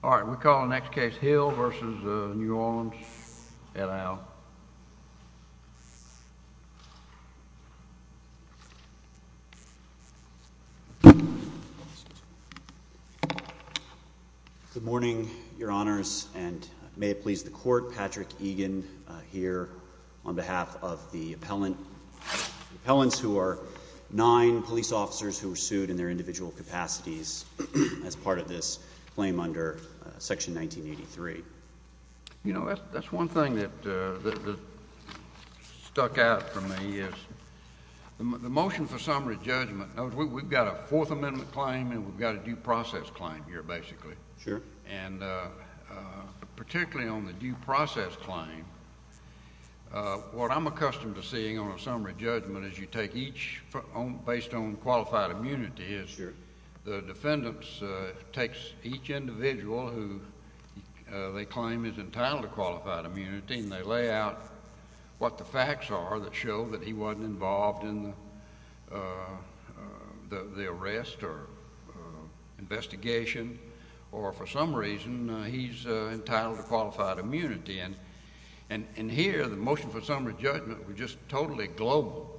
All right, we call the next case Hill v. New Orleans. Ed Aisle. Good morning, your honors, and may it please the court, Patrick Egan here on behalf of the appellants who are nine police officers who were sued in their individual capacities as part of this claim under section 1983. You know, that's one thing that stuck out for me is the motion for summary judgment. We've got a Fourth Amendment claim and we've got a due process claim here, basically. Sure. And particularly on the due process claim, what I'm accustomed to seeing on a summary judgment is you take each based on qualified immunity. Sure. The defendants takes each individual who they claim is entitled to qualified immunity and they lay out what the facts are that show that he wasn't involved in the arrest or investigation or for some reason he's entitled to qualified immunity. And here the motion for summary judgment was just totally global.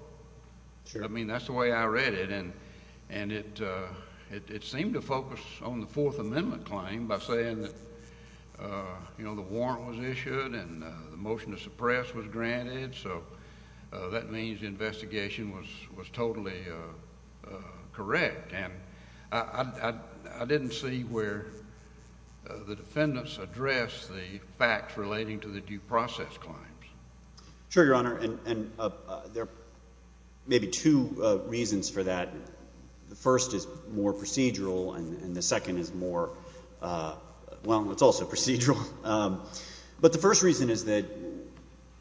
Sure. I mean, that's the way I read it. And it seemed to focus on the Fourth Amendment claim by saying that, you know, the warrant was issued and the motion to suppress was granted. So that means the investigation was totally correct. And I didn't see where the defendants addressed the facts relating to the due process claims. Sure, Your Honor. And there are maybe two reasons for that. The first is more procedural and the second is more, well, it's also procedural. But the first reason is that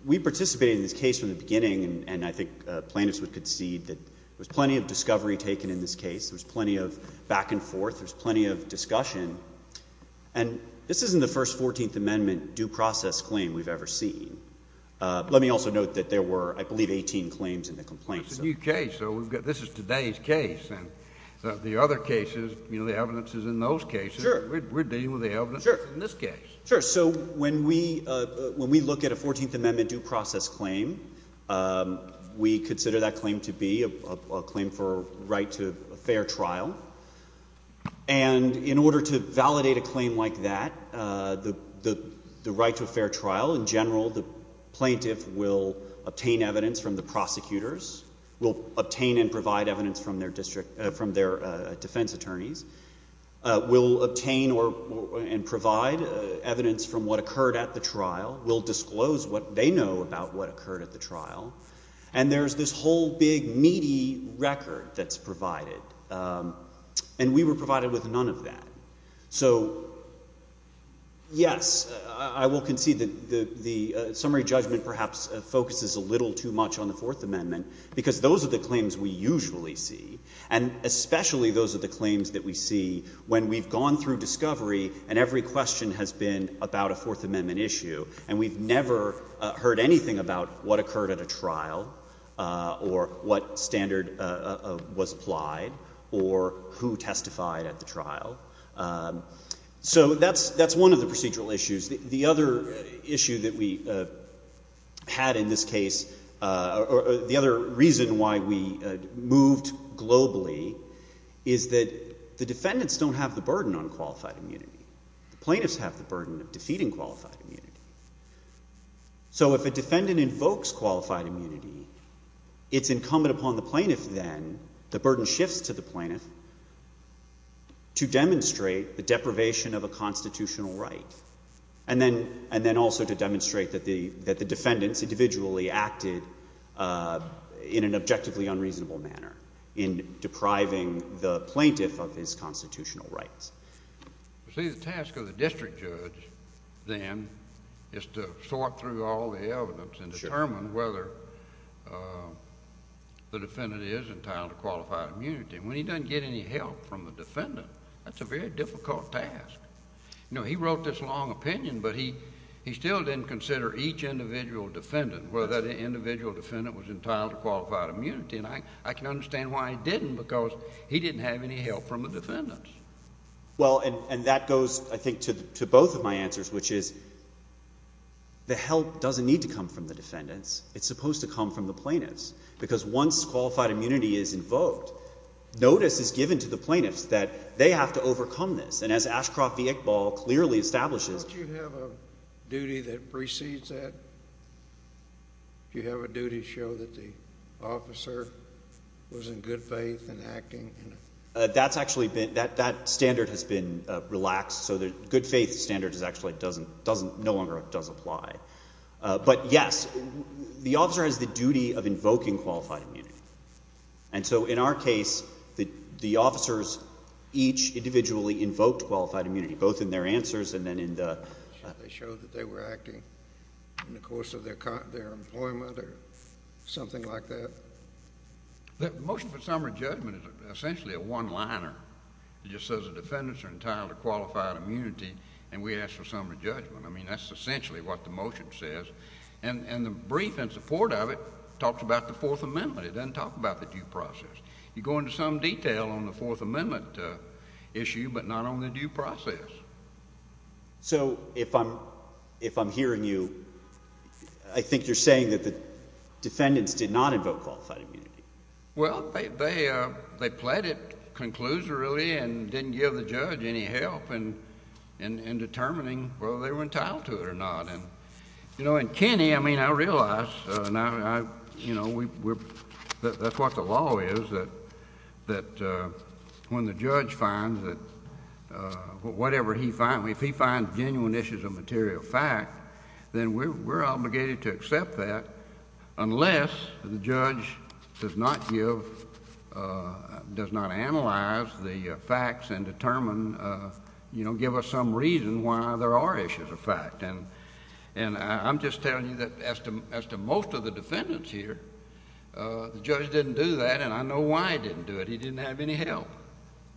we participated in this case from the beginning and I think plaintiffs would concede that there's plenty of discovery taken in this case. There's plenty of back and forth. There's plenty of discussion. And this isn't the first Fourteenth Amendment due process claim we've ever seen. Let me also note that there were, I believe, 18 claims in the complaint. That's a new case. This is today's case and the other cases, you know, the evidence is in those cases. Sure. We're dealing with the evidence in this case. Sure. So when we look at a Fourteenth Amendment due process claim, we consider that claim to be a claim for right to a fair trial. And in order to validate a claim like that, the right to a fair trial, in general, the plaintiff will obtain evidence from the prosecutors, will obtain and provide evidence from their defense attorneys, will obtain and provide evidence from what occurred at the trial, will disclose what they know about what occurred at the trial. And there's this whole big meaty record that's provided. And we were provided with none of that. So, yes, I will concede that the summary judgment perhaps focuses a little too much on the Fourth Amendment because those are the claims we usually see. And especially those are the claims that we see when we've gone through discovery and every question has been about a Fourth Amendment issue. And we've never heard anything about what occurred at a trial or what standard was applied or who testified at the trial. So that's one of the procedural issues. The other issue that we had in this case, or the other reason why we moved globally, is that the defendants don't have the burden on qualified immunity. The plaintiffs have the burden of defeating qualified immunity. So if a defendant invokes qualified immunity, it's incumbent upon the plaintiff then, the burden shifts to the plaintiff, to demonstrate the deprivation of a constitutional right. And then also to demonstrate that the defendants individually acted in an objectively unreasonable manner in depriving the plaintiff of his constitutional rights. See, the task of the district judge then is to sort through all the evidence and determine whether the defendant is entitled to qualified immunity. And when he doesn't get any help from the defendant, that's a very difficult task. You know, he wrote this long opinion, but he still didn't consider each individual defendant, whether that individual defendant was entitled to qualified immunity. And I can understand why he didn't, because he didn't have any help from the defendants. Well, and that goes, I think, to both of my answers, which is the help doesn't need to come from the defendants. It's supposed to come from the plaintiffs. Because once qualified immunity is invoked, notice is given to the plaintiffs that they have to overcome this. And as Ashcroft v. Iqbal clearly establishes... Don't you have a duty that precedes that? Do you have a duty to show that the officer was in good faith in acting? That's actually been, that standard has been relaxed. So the good faith standard actually no longer does apply. But yes, the officer has the duty of invoking qualified immunity. And so in our case, the officers each individually invoked qualified immunity, both in their answers and then in the... They showed that they were acting in the course of their employment or something like that. The motion for summary judgment is essentially a one-liner. It just says the defendants are in the course of their employment or in the course of their employment. I mean, that's essentially what the motion says. And the brief in support of it talks about the Fourth Amendment. It doesn't talk about the due process. You go into some detail on the Fourth Amendment issue, but not on the due process. So if I'm hearing you, I think you're saying that the defendants did not invoke qualified immunity. Well, they pleaded conclusory and didn't give the judge any help in determining whether they were entitled to it or not. And, you know, in Kenny, I mean, I realize, you know, that's what the law is, that when the judge finds that whatever he finds, if he finds genuine issues of material fact, then we're obligated to accept that unless the judge does not give, does not analyze the facts and determine, you know, give us some reason why there are issues of fact. And I'm just telling you that as to most of the defendants here, the judge didn't do that, and I know why he didn't do it. He didn't have any help.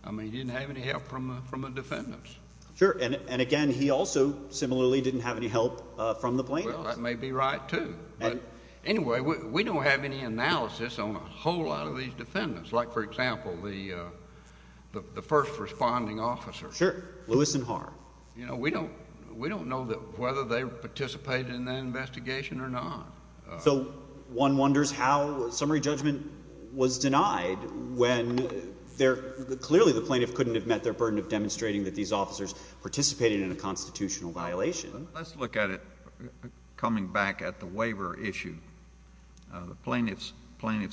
I mean, he didn't have any help from the defendants. Sure. And again, he also similarly didn't have any help from the plaintiffs. Well, that may be right, too. But anyway, we don't have any analysis on a whole lot of these defendants, like, for example, the first responding officer. Sure, Lewis and Harr. You know, we don't know whether they participated in that investigation or not. So one wonders how summary judgment was denied when clearly the plaintiff couldn't have met their burden of demonstrating that these officers participated in a constitutional violation. Let's look at it coming back at the waiver issue. The plaintiffs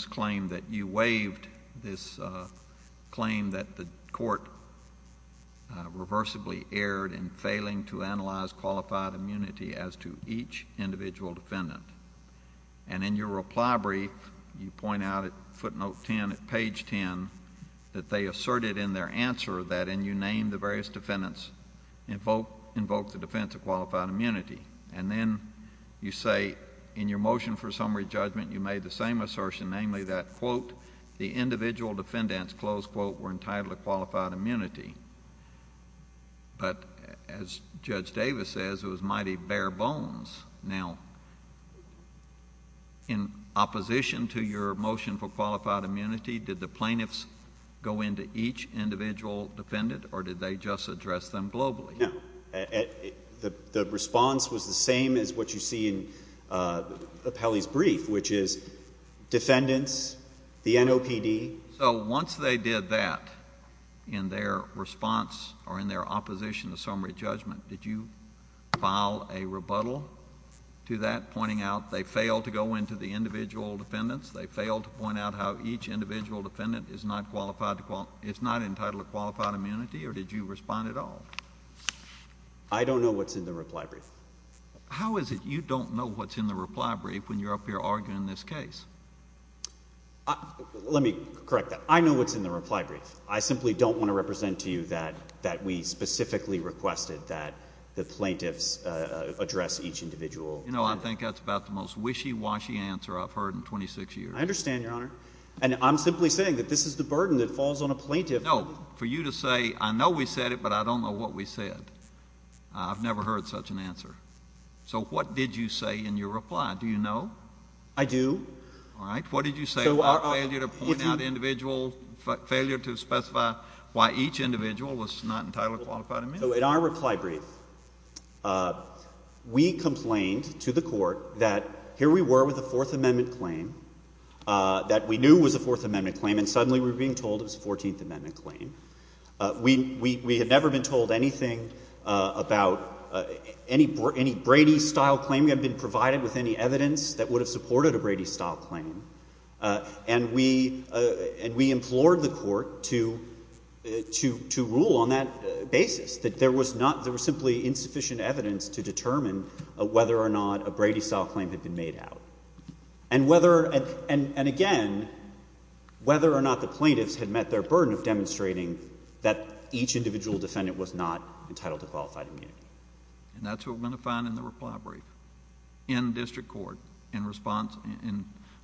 claimed that you waived this claim that the court reversibly erred in failing to analyze qualified immunity as to each individual defendant. And in your reply brief, you point out at footnote 10, at page 10, that they asserted in their answer that, and you named the various defendants, invoked the defense of qualified immunity. And then you say in your motion for summary judgment, you made the same assertion, namely, that, quote, the individual defendants, close quote, were entitled to qualified immunity. But as Judge Davis says, it was mighty bare bones. Now, in opposition to your motion for qualified immunity, did the plaintiffs go into each individual defendant, or did they just address them globally? No. The response was the same as what you see in Pelley's brief, which is defendants, the NOPD... So once they did that in their response or in their opposition to summary judgment, did you file a rebuttal to that, pointing out they failed to go into the individual defendants, they failed to point out how each individual defendant is not qualified to... is not qualified to go into the individual defendants? I don't know what's in the reply brief. How is it you don't know what's in the reply brief when you're up here arguing this case? Let me correct that. I know what's in the reply brief. I simply don't want to represent to you that we specifically requested that the plaintiffs address each individual... You know, I think that's about the most wishy-washy answer I've heard in 26 years. I understand, Your Honor. And I'm simply saying that this is the burden that falls on a plaintiff... No. For you to say, I know we said it, but I don't know what we said, I've never heard such an answer. So what did you say in your reply? Do you know? I do. All right. What did you say about failure to point out individual... failure to specify why each individual was not entitled to a qualified amendment? So in our reply brief, we complained to the Court that here we were with a Fourth Amendment claim, that we knew was a Fourth Amendment claim, and suddenly we were being told it was a Brady-style claim. We had never been told anything about any Brady-style claim that had been provided with any evidence that would have supported a Brady-style claim. And we implored the Court to rule on that basis, that there was simply insufficient evidence to determine whether or not a Brady-style claim had been made out. And again, whether or not the plaintiffs had met their burden of demonstrating that each individual defendant was not entitled to qualified amendment. And that's what we're going to find in the reply brief in district court in response...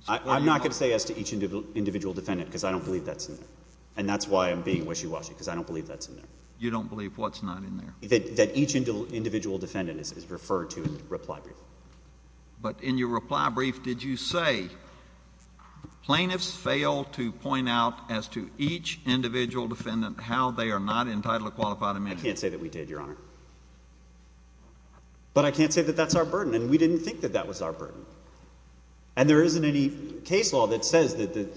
I'm not going to say as to each individual defendant, because I don't believe that's in there. And that's why I'm being wishy-washy, because I don't believe that's in there. You don't believe what's not in there? That each individual defendant is referred to in the reply brief. But in your reply brief, did you say, plaintiffs fail to point out as to each individual defendant how they are not entitled to qualified amendment? I can't say that we did, Your Honor. But I can't say that that's our burden. And we didn't think that that was our burden. And there isn't any case law that says that it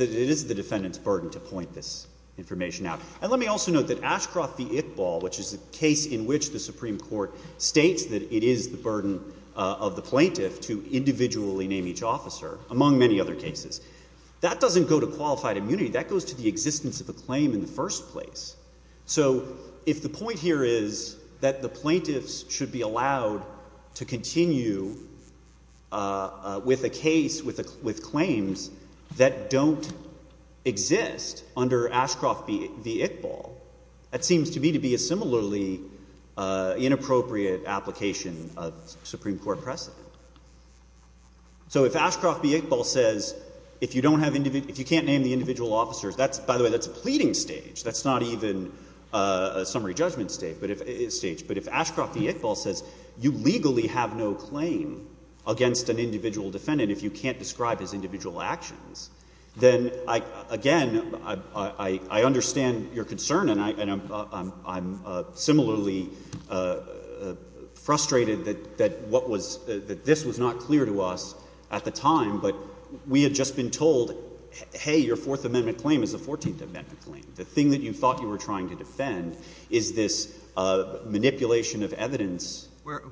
is the defendant's burden to point this information out. And let me also note that Ashcroft v. Iqbal, which is a case in which the Supreme Court states that it is the burden of the plaintiff to individually name each officer, among many other cases. That doesn't go to qualified immunity. That goes to the existence of a claim in the first place. So if the point here is that the plaintiffs should be allowed to continue with a case with claims that don't exist under Ashcroft v. Iqbal, that seems to me to be a similarly inappropriate application of Supreme Court precedent. So if Ashcroft v. Iqbal says, if you can't name the individual officers, that's, by the way, that's a pleading stage. That's not even a summary judgment stage. But if Ashcroft v. Iqbal says, you legally have no claim against an individual defendant if you can't describe his individual actions, then, again, I understand your concern, and I'm similarly frustrated that this was not clear to us at the time, but we had just been told, hey, your Fourth Amendment claim is the Fourteenth Amendment claim. The thing that you thought you were trying to defend is this manipulation of evidence.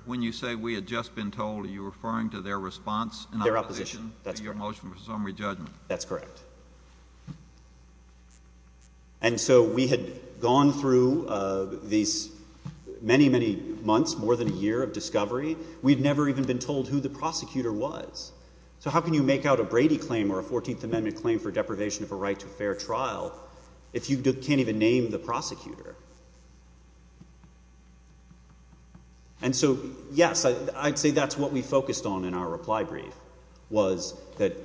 When you say we had just been told, are you referring to their response in opposition to your motion for summary judgment? That's correct. And so we had gone through these many, many months, more than a year of discovery. We'd never even been told who the prosecutor was. So how can you make out a Brady claim or a Fourteenth Amendment claim for deprivation of a right to a fair trial if you can't even name the prosecutor? And so, yes, I'd say that's what we focused on in our reply brief, was that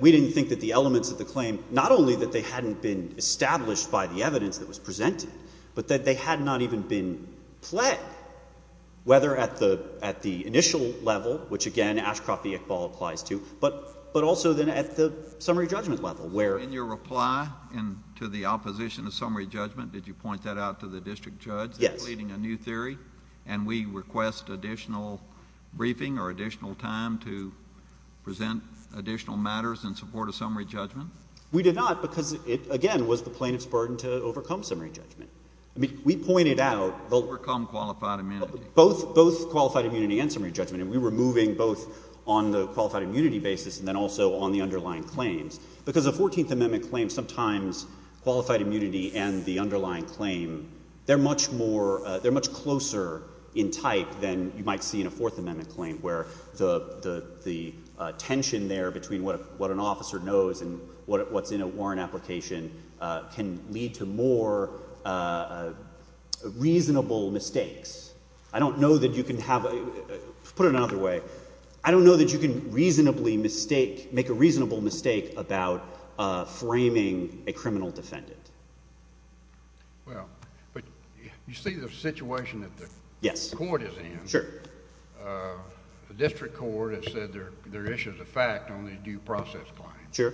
we didn't think that the elements of the claim, not only that they hadn't been established by the evidence that was presented, but that they had not even been pled, whether at the initial level, which, again, Ashcroft v. Iqbal applies to, but also then at the summary judgment level, where — In your reply to the opposition to summary judgment, did you point that out to the district judge — Yes. — and we request additional briefing or additional time to present additional matters in support of summary judgment? We did not, because it, again, was the plaintiff's burden to overcome summary judgment. I mean, we pointed out — Overcome qualified immunity. Both qualified immunity and summary judgment, and we were moving both on the qualified immunity basis and then also on the underlying claims. Because the Fourteenth Amendment claims sometimes qualified immunity and the underlying claim, they're much more — they're much closer in type than you might see in a Fourth Amendment claim, where the tension there between what an officer knows and what's in a warrant application can lead to more reasonable mistakes. I don't know that you can have — put it another way. I don't know that you can reasonably mistake — make a reasonable mistake about framing a criminal defendant. Well, but you see the situation that the court is in. Yes. Sure. The district court has said there are issues of fact on these due process claims. Sure.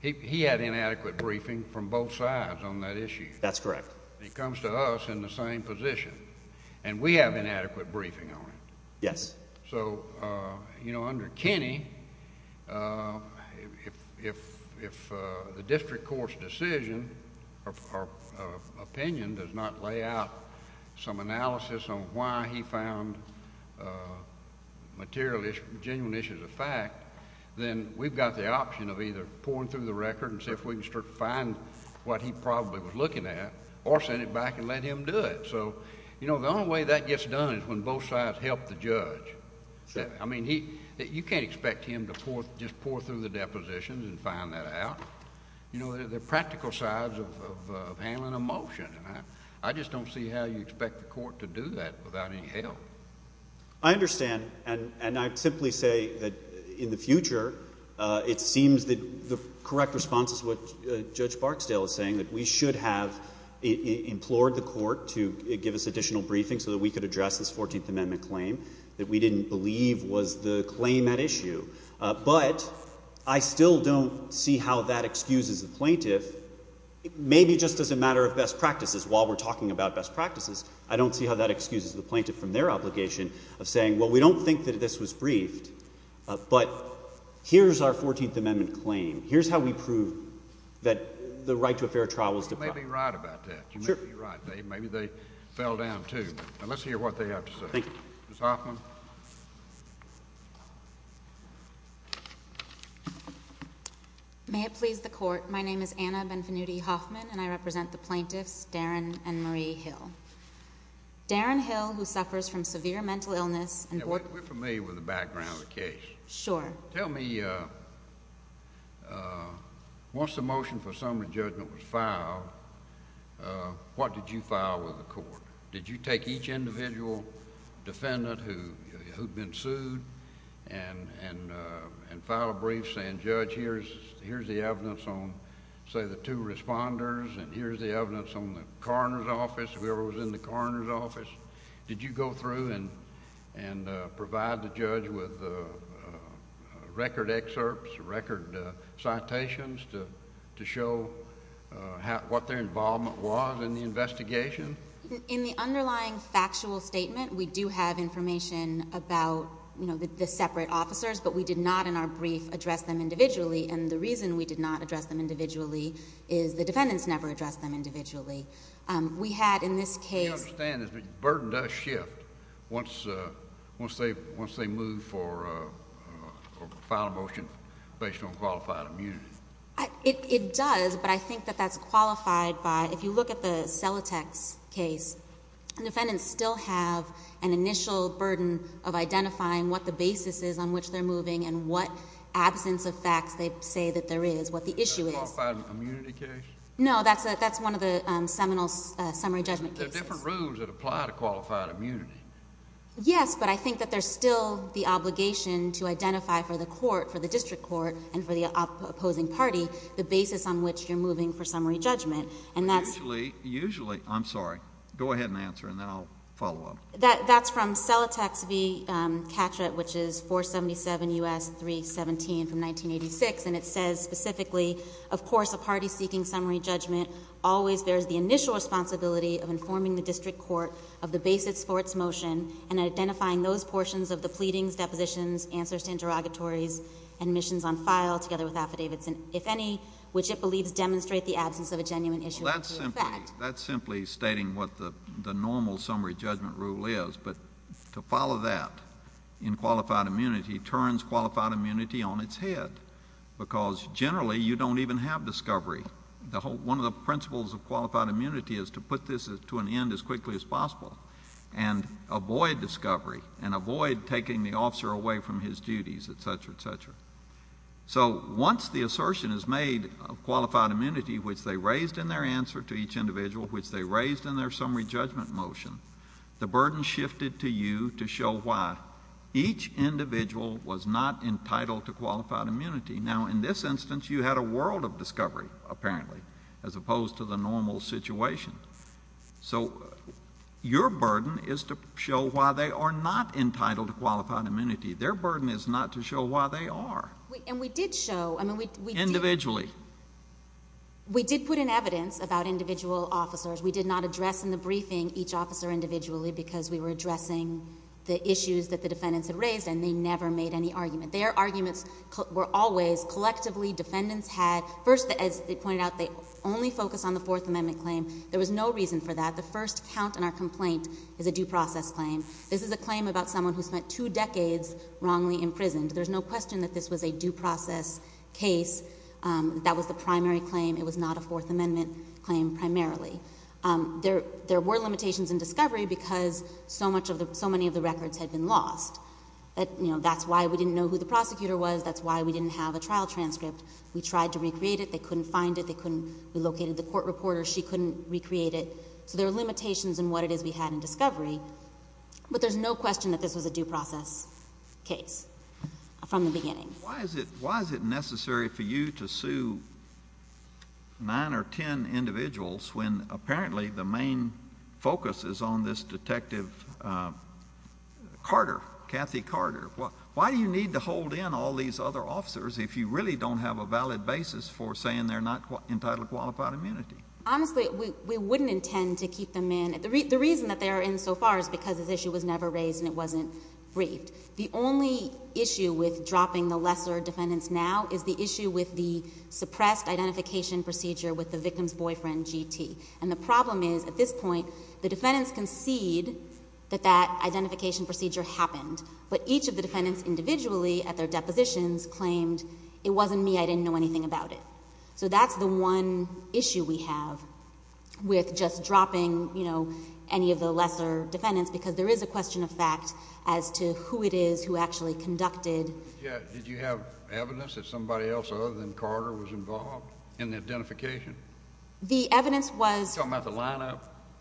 He had inadequate briefing from both sides on that issue. That's correct. He comes to us in the same position, and we have inadequate briefing on it. Yes. So, you know, under Kenny, if the district court's decision or opinion does not lay out some analysis on why he found material issues, genuine issues of fact, then we've got the option of either pouring through the record and see if we can start to find what he probably was looking at or send it back and let him do it. So, you know, the only way that gets done is when both sides help the judge. Sure. I mean, you can't expect him to just pour through the depositions and find that out. You know, they're practical sides of handling a motion, and I just don't see how you expect the court to do that without any help. I understand, and I'd simply say that in the future, it seems that the correct response is what Judge Barksdale is saying, that we should have implored the court to give us additional briefing so that we could address this Fourteenth Amendment claim that we didn't believe was the claim at issue. But I still don't see how that excuses the plaintiff. Maybe just as a matter of best practices, while we're talking about best practices, I don't see how that excuses the plaintiff from their obligation of saying, well, we don't think that this was briefed, but here's our Fourteenth Amendment claim. Here's how we prove that the right to a fair trial was deprived. Well, you may be right about that. Sure. You may be right. Maybe they fell down, too. Now, let's hear what they have to say. Thank you. Ms. Hoffman? May it please the Court, my name is Anna Benvenuti Hoffman, and I represent the plaintiffs, Darren and Marie Hill. Darren Hill, who suffers from severe mental illness, and— Yeah, we're familiar with the background of the case. Sure. Tell me, once the motion for summary judgment was filed, what did you file with the Court? Did you take each individual defendant who'd been sued and file a brief saying, Judge, here's the evidence on, say, the two responders, and here's the evidence on the coroner's office, whoever was in the coroner's office? Did you go through and provide the judge with record excerpts, record citations to show what their involvement was in the investigation? In the underlying factual statement, we do have information about the separate officers, but we did not in our brief address them individually, and the reason we did not address them individually is the defendants never addressed them individually. We had in this case— The burden does shift once they move for or file a motion based on qualified immunity. It does, but I think that that's qualified by—if you look at the Celotex case, defendants still have an initial burden of identifying what the basis is on which they're moving and what absence of facts they say that there is, what the issue is. Is that a qualified immunity case? No, that's one of the seminal summary judgment cases. There are different rules that apply to qualified immunity. Yes, but I think that there's still the obligation to identify for the court, for the district court, and for the opposing party, the basis on which you're moving for summary judgment, and that's— Usually, I'm sorry. Go ahead and answer, and then I'll follow up. That's from Celotex v. Catra, which is 477 U.S. 317 from 1986, and it says specifically, of course, a party seeking summary judgment always bears the initial responsibility of informing the district court of the basis for its motion and identifying those portions of the pleadings, depositions, answers to interrogatories, and missions on file together with affidavits, if any, which it believes demonstrate the absence of a genuine issue or two of fact. Well, that's simply stating what the normal summary judgment rule is, but to follow that in qualified immunity turns qualified immunity on its head, because generally, you don't even have discovery. One of the principles of qualified immunity is to put this to an end as quickly as possible and avoid discovery and avoid taking the officer away from his duties, et cetera, et cetera. So once the assertion is made of qualified immunity, which they raised in their answer to each individual, which they raised in their summary judgment motion, the burden shifted to you to show why each individual was not entitled to qualified immunity. Now, in this instance, you had a world of discovery, apparently, as opposed to the normal situation. So your burden is to show why they are not entitled to qualified immunity. Their burden is not to show why they are. And we did show... Individually. We did put in evidence about individual officers. We did not address in the briefing each officer individually, because we were addressing the issues that the defendants had raised, and they never made any argument. Their arguments were always, collectively, defendants had... First, as they pointed out, they only focused on the Fourth Amendment claim. There was no reason for that. The first count in our complaint is a due process claim. This is a claim about someone who spent two decades wrongly imprisoned. There's no question that this was a due process case. That was the primary claim. It was not a Fourth Amendment claim, primarily. There were limitations in discovery, because so many of the records had been lost. You know, that's why we didn't know who the prosecutor was. That's why we didn't have a trial transcript. We tried to recreate it. They couldn't find it. They couldn't relocate it. The court reporter, she couldn't recreate it. So there are limitations in what it is we had in discovery. But there's no question that this was a due process case, from the beginning. Why is it necessary for you to sue nine or ten individuals, when apparently the main focus is on this Detective Carter, Kathy Carter? Why do you need to hold in all these other officers, if you really don't have a valid basis for saying they're not entitled to qualified immunity? Honestly, we wouldn't intend to keep them in. The reason that they are in so far is because this issue was never raised and it wasn't briefed. The only issue with dropping the lesser defendants now is the issue with the suppressed identification procedure with the victim's boyfriend, GT. And the problem is, at this point, the defendants concede that that identification procedure happened. But each of the defendants individually, at their depositions, claimed, it wasn't me, I didn't know anything about it. So that's the one issue we have with just dropping, you know, any of the lesser defendants, because there is a question of fact as to who it is who actually conducted. Did you have evidence that somebody else other than Carter was involved in the identification? The evidence was... Are you talking about the lineup?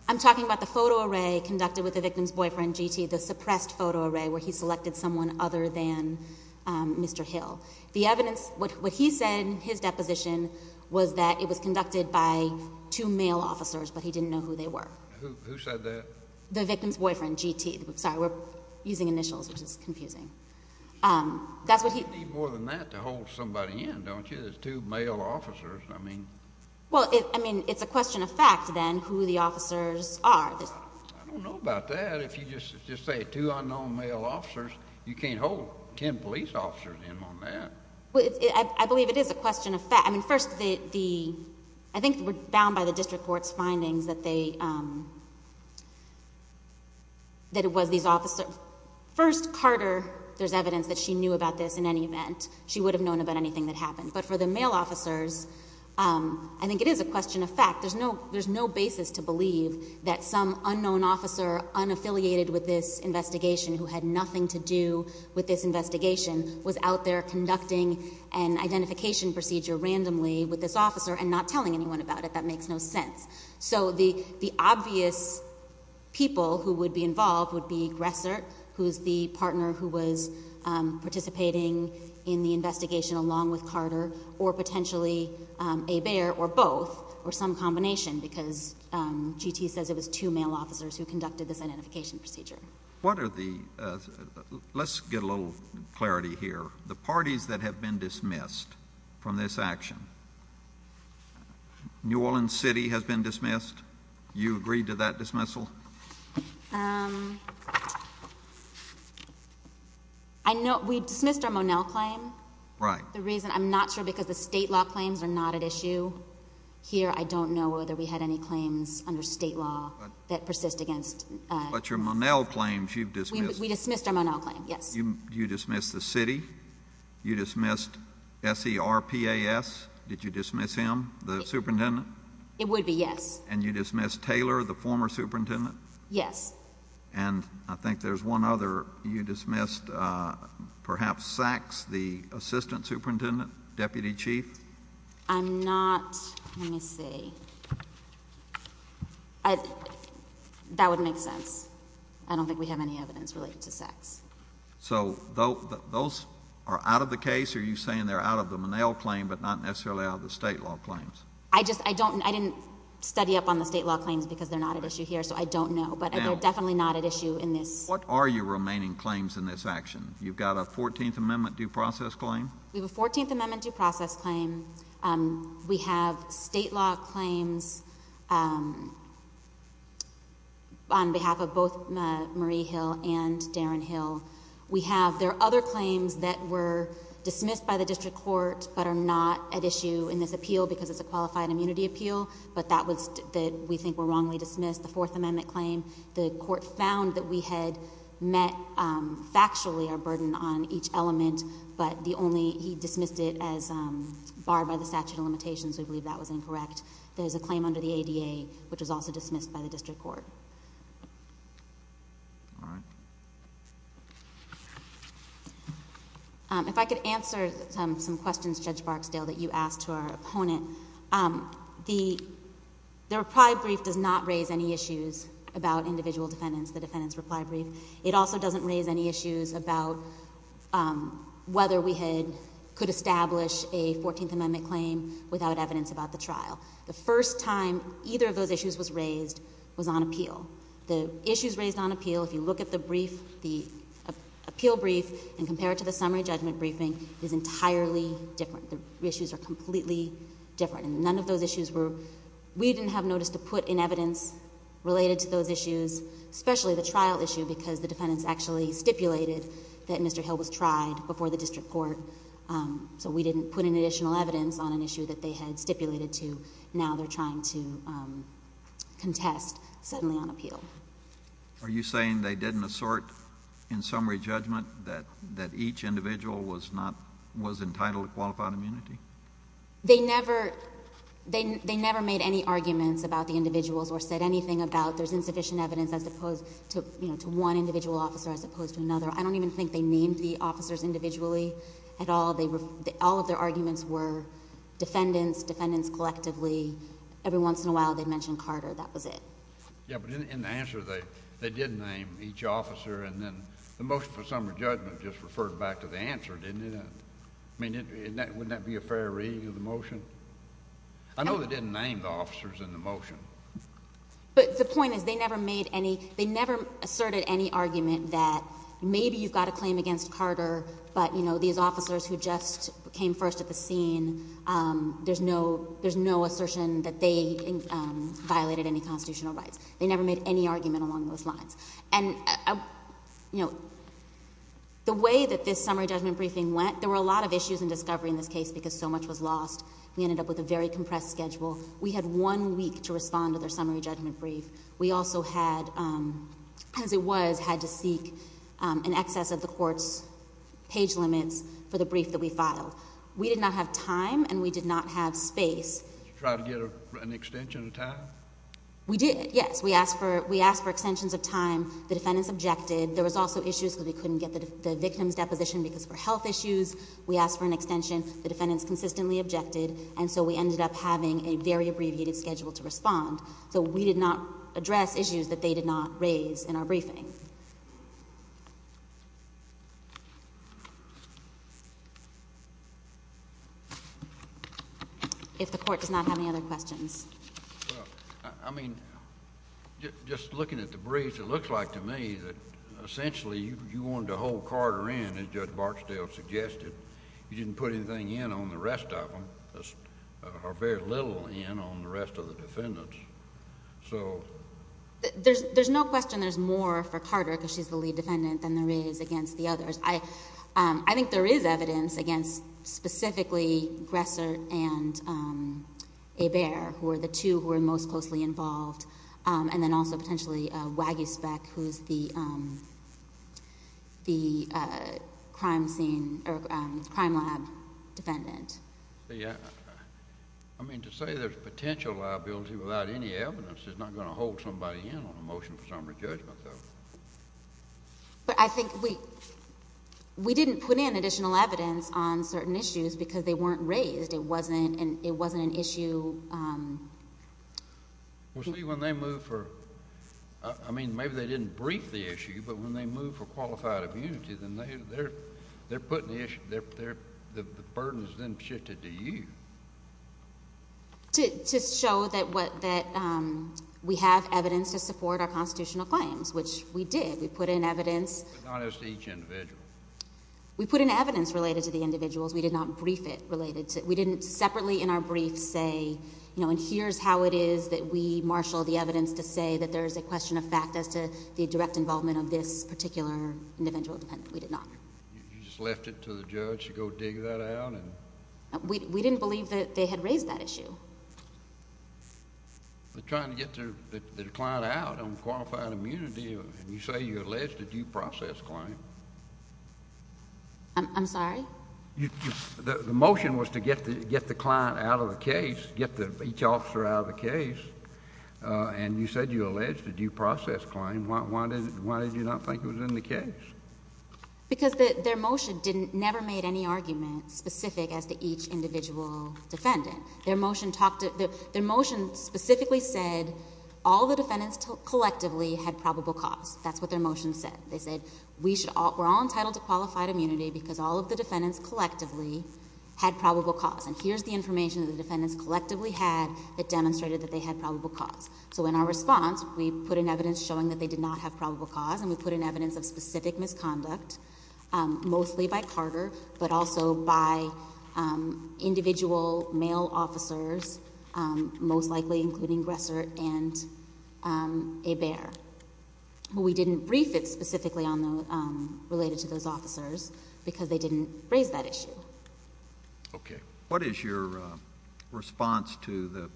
I'm talking about the photo array conducted with the victim's boyfriend, GT, the suppressed photo array where he selected someone other than Mr. Hill. The evidence, what he said in his deposition, was that it was conducted by two male officers, but he didn't know who they were. Who said that? The victim's boyfriend, GT. Sorry, we're using initials, which is confusing. You don't need more than that to hold somebody in, don't you? Because it's two male officers, I mean... Well, I mean, it's a question of fact, then, who the officers are. I don't know about that. If you just say two unknown male officers, you can't hold ten police officers in on that. I believe it is a question of fact. I mean, first, the... I think we're bound by the district court's findings that they...that it was these officers... First, Carter, there's evidence that she knew about this in any event. She would have known about anything that happened. But for the male officers, I think it is a question of fact. There's no basis to believe that some unknown officer unaffiliated with this investigation who had nothing to do with this investigation was out there conducting an identification procedure randomly with this officer and not telling anyone about it. That makes no sense. So the obvious people who would be involved would be Gressert, who's the partner who was involved in the investigation, along with Carter, or potentially Hebert, or both, or some combination, because G.T. says it was two male officers who conducted this identification procedure. What are the... Let's get a little clarity here. The parties that have been dismissed from this action, New Orleans City has been dismissed. You agree to that dismissal? I know...we dismissed our Monell claim. Right. The reason...I'm not sure because the state law claims are not at issue here. I don't know whether we had any claims under state law that persist against... But your Monell claims, you've dismissed... We dismissed our Monell claim, yes. You dismissed the city? You dismissed S.E.R.P.A.S.? Did you dismiss him, the superintendent? It would be, yes. And you dismissed Taylor, the former superintendent? Yes. And I think there's one other. You dismissed, perhaps, Sachs, the assistant superintendent, deputy chief? I'm not...let me see. That would make sense. I don't think we have any evidence related to Sachs. So, those are out of the case? Are you saying they're out of the Monell claim, but not necessarily out of the state law claims? I didn't study up on the state law claims because they're not at issue here, so I don't know. But they're definitely not at issue in this. What are your remaining claims in this action? You've got a 14th Amendment due process claim? We have a 14th Amendment due process claim. We have state law claims on behalf of both Marie Hill and Darren Hill. There are other claims that were dismissed by the district court, but are not at issue in this appeal because it's a qualified immunity appeal, but that we think were wrongly dismissed. The Fourth Amendment claim, the court found that we had met factually our burden on each element, but he dismissed it as barred by the statute of limitations. We believe that was incorrect. There's a claim under the ADA, which was also dismissed by the district court. All right. If I could answer some questions, Judge Barksdale, that you asked to our opponent. The reply brief does not raise any issues about individual defendants, the defendants' reply brief. It also doesn't raise any issues about whether we could establish a 14th Amendment claim without evidence about the trial. The first time either of those issues was raised was on appeal. The issues raised on appeal, if you look at the appeal brief and compare it to the summary judgment briefing, is entirely different. The issues are completely different, and none of those issues were... We didn't have notice to put in evidence related to those issues, especially the trial issue, because the defendants actually stipulated that Mr. Hill was tried before the district court, so we didn't put in additional evidence on an issue that they had stipulated to. Now they're trying to contest suddenly on appeal. Are you saying they didn't assort in summary judgment that each individual was entitled to qualified immunity? They never made any arguments about the individuals or said anything about there's insufficient evidence as opposed to one individual officer as opposed to another. I don't even think they named the officers individually at all. All of their arguments were defendants, defendants collectively. Every once in a while, they'd mention Carter. That was it. Yeah, but in the answer, they did name each officer, and then the motion for summary judgment just referred back to the answer, didn't it? I mean, wouldn't that be a fair reading of the motion? I know they didn't name the officers in the motion. But the point is they never asserted any argument that maybe you've got a claim against Carter, but these officers who just came first at the scene, there's no assertion that they violated any constitutional rights. They never made any argument along those lines. And the way that this summary judgment briefing went, there were a lot of issues in discovery in this case because so much was lost. We ended up with a very compressed schedule. We had one week to respond to their summary judgment brief. We also had, as it was, had to seek an excess of the court's page limits for the brief that we filed. We did not have time, and we did not have space. Did you try to get an extension of time? We did, yes. We asked for extensions of time. The defendants objected. There was also issues because we couldn't get the victim's deposition because of health issues. We asked for an extension. The defendants consistently objected. And so we ended up having a very abbreviated schedule to respond. So we did not address issues that they did not raise in our briefing. If the court does not have any other questions. Well, I mean, just looking at the brief, it looks like to me that essentially you wanted to hold Carter in, as Judge Barksdale suggested. You didn't put anything in on the rest of them, or very little in on the rest of the defendants. So... There's no question there's more for Carter because she's the lead defendant than there is against the others. I think there is evidence against specifically Gresser and Hebert, who are the two who are most closely involved. And then also potentially Wagisbeck, who's the crime lab defendant. I mean, to say there's potential liability without any evidence is not going to hold somebody in on a motion for summary judgment, though. But I think we didn't put in additional evidence on certain issues because they weren't raised. It wasn't an issue... Well, see, when they move for... I mean, maybe they didn't brief the issue, but when they move for qualified immunity, then they're putting the issue... The burden is then shifted to you. To show that we have evidence to support our constitutional claims, which we did. We put in evidence... But not as to each individual. We put in evidence related to the individuals. We did not brief it related to... We didn't separately in our brief say, you know, and here's how it is that we marshal the evidence to say that there is a question of fact as to the direct involvement of this particular individual defendant. We did not. You just left it to the judge to go dig that out and... We didn't believe that they had raised that issue. They're trying to get the client out on qualified immunity, and you say you alleged a due process claim. I'm sorry? The motion was to get the client out of the case, get each officer out of the case, and you said you alleged a due process claim. Why did you not think it was in the case? Because their motion never made any argument specific as to each individual defendant. Their motion specifically said all the defendants collectively had probable cause. That's what their motion said. They said we're all entitled to qualified immunity because all of the defendants collectively had probable cause. And here's the information that the defendants collectively had that demonstrated that they had probable cause. So in our response, we put in evidence showing that they did not have probable cause, and we put in evidence of specific misconduct, mostly by Carter, but also by individual male officers, most likely including Gressert and Hebert. We didn't brief it specifically related to those officers because they didn't raise that issue. Okay. What is your response to the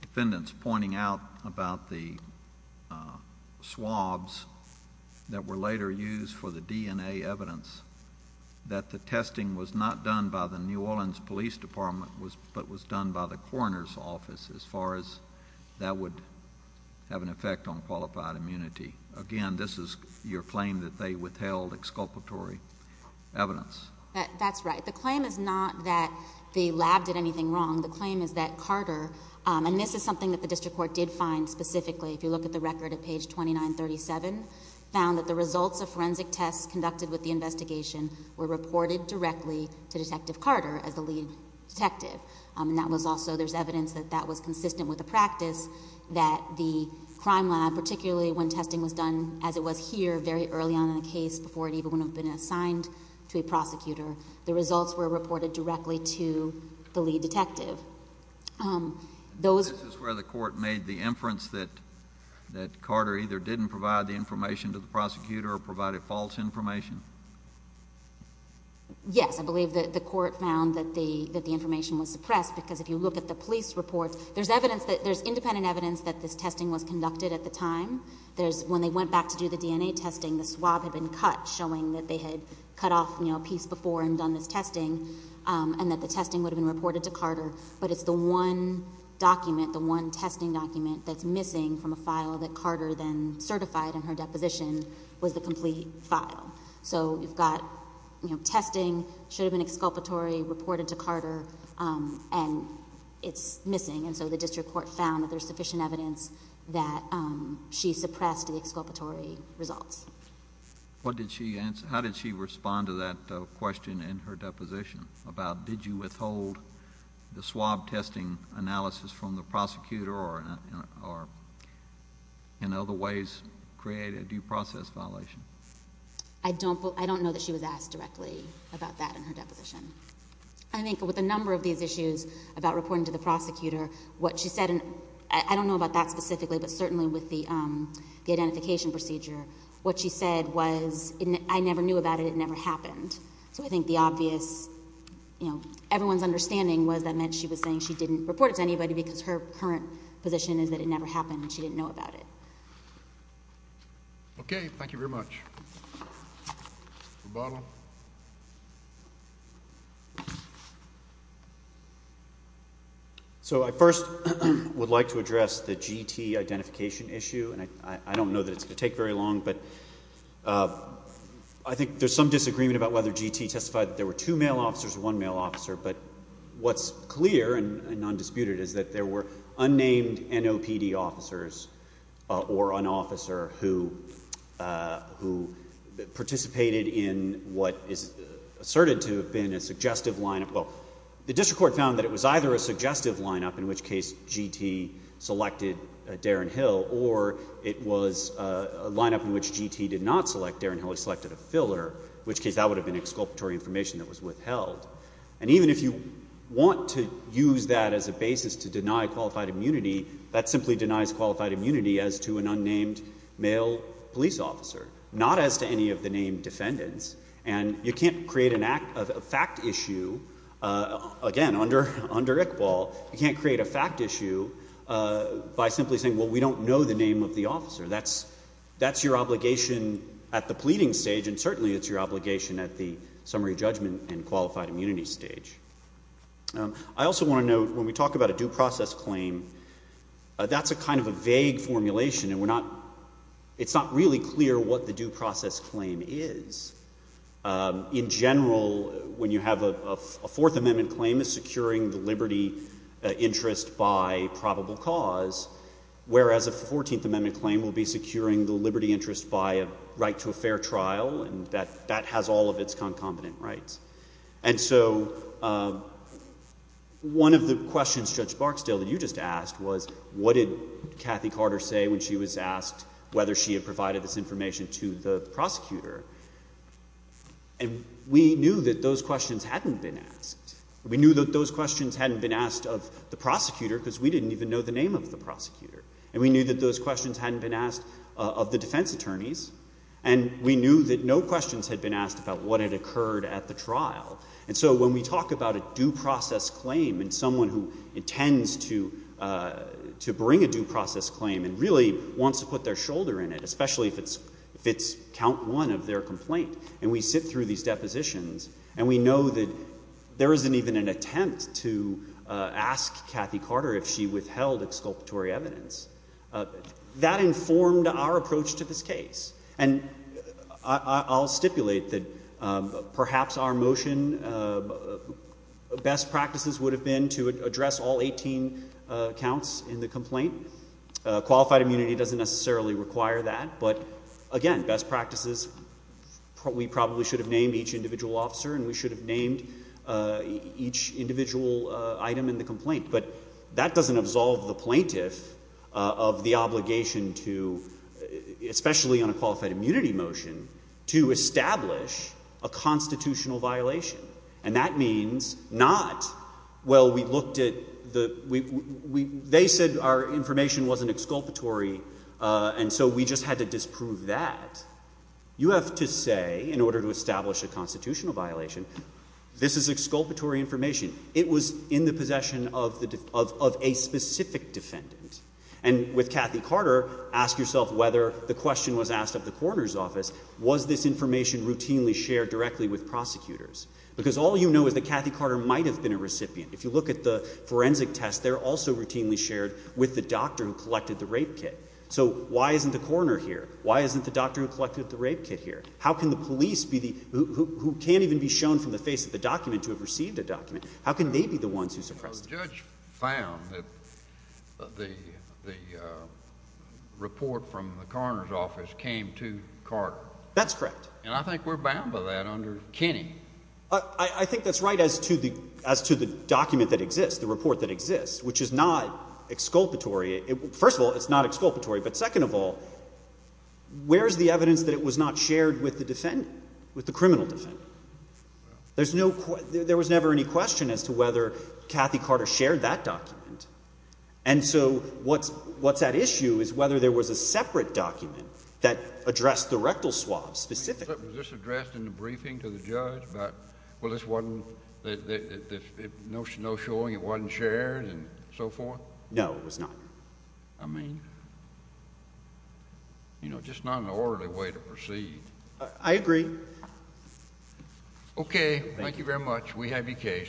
defendants pointing out about the swabs that were later used for the DNA evidence that the testing was not done by the New Orleans Police Department but was done by the coroner's office as far as that would have an effect on qualified immunity? Again, this is your claim that they withheld exculpatory evidence. That's right. The claim is not that the lab did anything wrong. The claim is that Carter, and this is something that the district court did find specifically, if you look at the record at page 2937, found that the results of forensic tests conducted with the investigation were reported directly to Detective Carter as the lead detective. There's evidence that that was consistent with the practice that the crime lab, particularly when testing was done as it was here very early on in the case, before it even would have been assigned to a prosecutor, the results were reported directly to the lead detective. This is where the court made the inference that Carter either didn't provide the information to the prosecutor or provided false information? Yes, I believe that the court found that the information was suppressed because if you look at the police reports, there's independent evidence that this testing was conducted at the time. When they went back to do the DNA testing, the swab had been cut, showing that they had cut off a piece before and done this testing and that the testing would have been reported to Carter, but it's the one document, the one testing document that's missing from a file that Carter then certified in her deposition was the complete file. So you've got testing, should have been exculpatory, reported to Carter, and it's missing. And so the district court found that there's sufficient evidence that she suppressed the exculpatory results. What did she answer? How did she respond to that question in her deposition about, did you withhold the swab testing analysis from the prosecutor or in other ways create a due process violation? I don't know that she was asked directly about that in her deposition. I think with a number of these issues about reporting to the prosecutor, what she said, and I don't know about that specifically, but certainly with the identification procedure, what she said was, I never knew about it, it never happened. So I think the obvious, you know, everyone's understanding was that meant she was saying she didn't report it to anybody because her current position is that it never happened and she didn't know about it. Okay. Thank you very much. Rebottle. So I first would like to address the GT identification issue, and I don't know that it's going to take very long, but I think there's some disagreement about whether GT testified that there were two male officers or one male officer, but what's clear and non-disputed is that there were unnamed NOPD officers or an officer who participated in what is asserted to have been a suggestive lineup. Well, the district court found that it was either a suggestive lineup, in which case GT selected Darren Hill, or it was a lineup in which GT did not select Darren Hill, he selected a filler, in which case that would have been exculpatory information that was withheld. And even if you want to use that as a basis to deny qualified immunity, that simply denies qualified immunity as to an unnamed male police officer, not as to any of the named defendants. And you can't create a fact issue, again, under ICWAL, you can't create a fact issue by simply saying, well, we don't know the name of the officer. That's your obligation at the pleading stage, and certainly it's your obligation at the summary judgment and qualified immunity stage. I also want to note, when we talk about a due process claim, that's a kind of a vague formulation, and it's not really clear what the due process claim is. In general, when you have a Fourth Amendment claim, it's securing the liberty interest by probable cause, whereas a Fourteenth Amendment claim will be securing the liberty interest by a right to a fair trial, and that has all of its concomitant rights. And so one of the questions, Judge Barksdale, that you just asked was, what did Cathy Carter say when she was asked whether she had provided this information to the prosecutor? And we knew that those questions hadn't been asked. We knew that those questions hadn't been asked of the prosecutor, because we didn't even know the name of the prosecutor. And we knew that those questions hadn't been asked of the defense attorneys, and we knew that no questions had been asked about what had occurred at the trial. And so when we talk about a due process claim and someone who intends to bring a due process claim and really wants to put their shoulder in it, especially if it's count one of their complaint, and we sit through these depositions, and we know that there isn't even an attempt to ask Cathy Carter if she withheld exculpatory evidence, that informed our approach to this case. And I'll stipulate that perhaps our motion best practices would have been to address all 18 counts in the complaint, and qualified immunity doesn't necessarily require that. But again, best practices, we probably should have named each individual officer, and we should have named each individual item in the complaint. But that doesn't absolve the plaintiff of the obligation to, especially on a qualified immunity motion, to establish a constitutional violation. And that means not, well, we looked at the, they said our information wasn't exculpatory, and so we just had to disprove that. You have to say, in order to establish a constitutional violation, this is exculpatory information. It was in the possession of a specific defendant. And with Cathy Carter, ask yourself whether the question was asked of the coroner's office, was this information routinely shared directly with prosecutors? Because all you know is that Cathy Carter might have been a recipient. If you look at the forensic test, they're also routinely shared with the doctor who collected the rape kit. So why isn't the coroner here? Why isn't the doctor who collected the rape kit here? How can the police be the, who can't even be shown from the face of the document to have received a document? How can they be the ones who suppressed it? The judge found that the report from the coroner's office came to Carter. That's correct. And I think we're bound by that under Kenney. I think that's right as to the document that exists, the report that exists, which is not exculpatory. First of all, it's not exculpatory. But second of all, where is the evidence that it was not shared with the defendant, with the criminal defendant? There was never any question as to whether Cathy Carter shared that document. And so what's at issue is whether there was a separate document that addressed the rectal swab specifically. Was this addressed in the briefing to the judge about, well, this wasn't, no showing it wasn't shared and so forth? No, it was not. I mean, you know, just not an orderly way to proceed. I agree. Okay. Thank you very much. We have your case.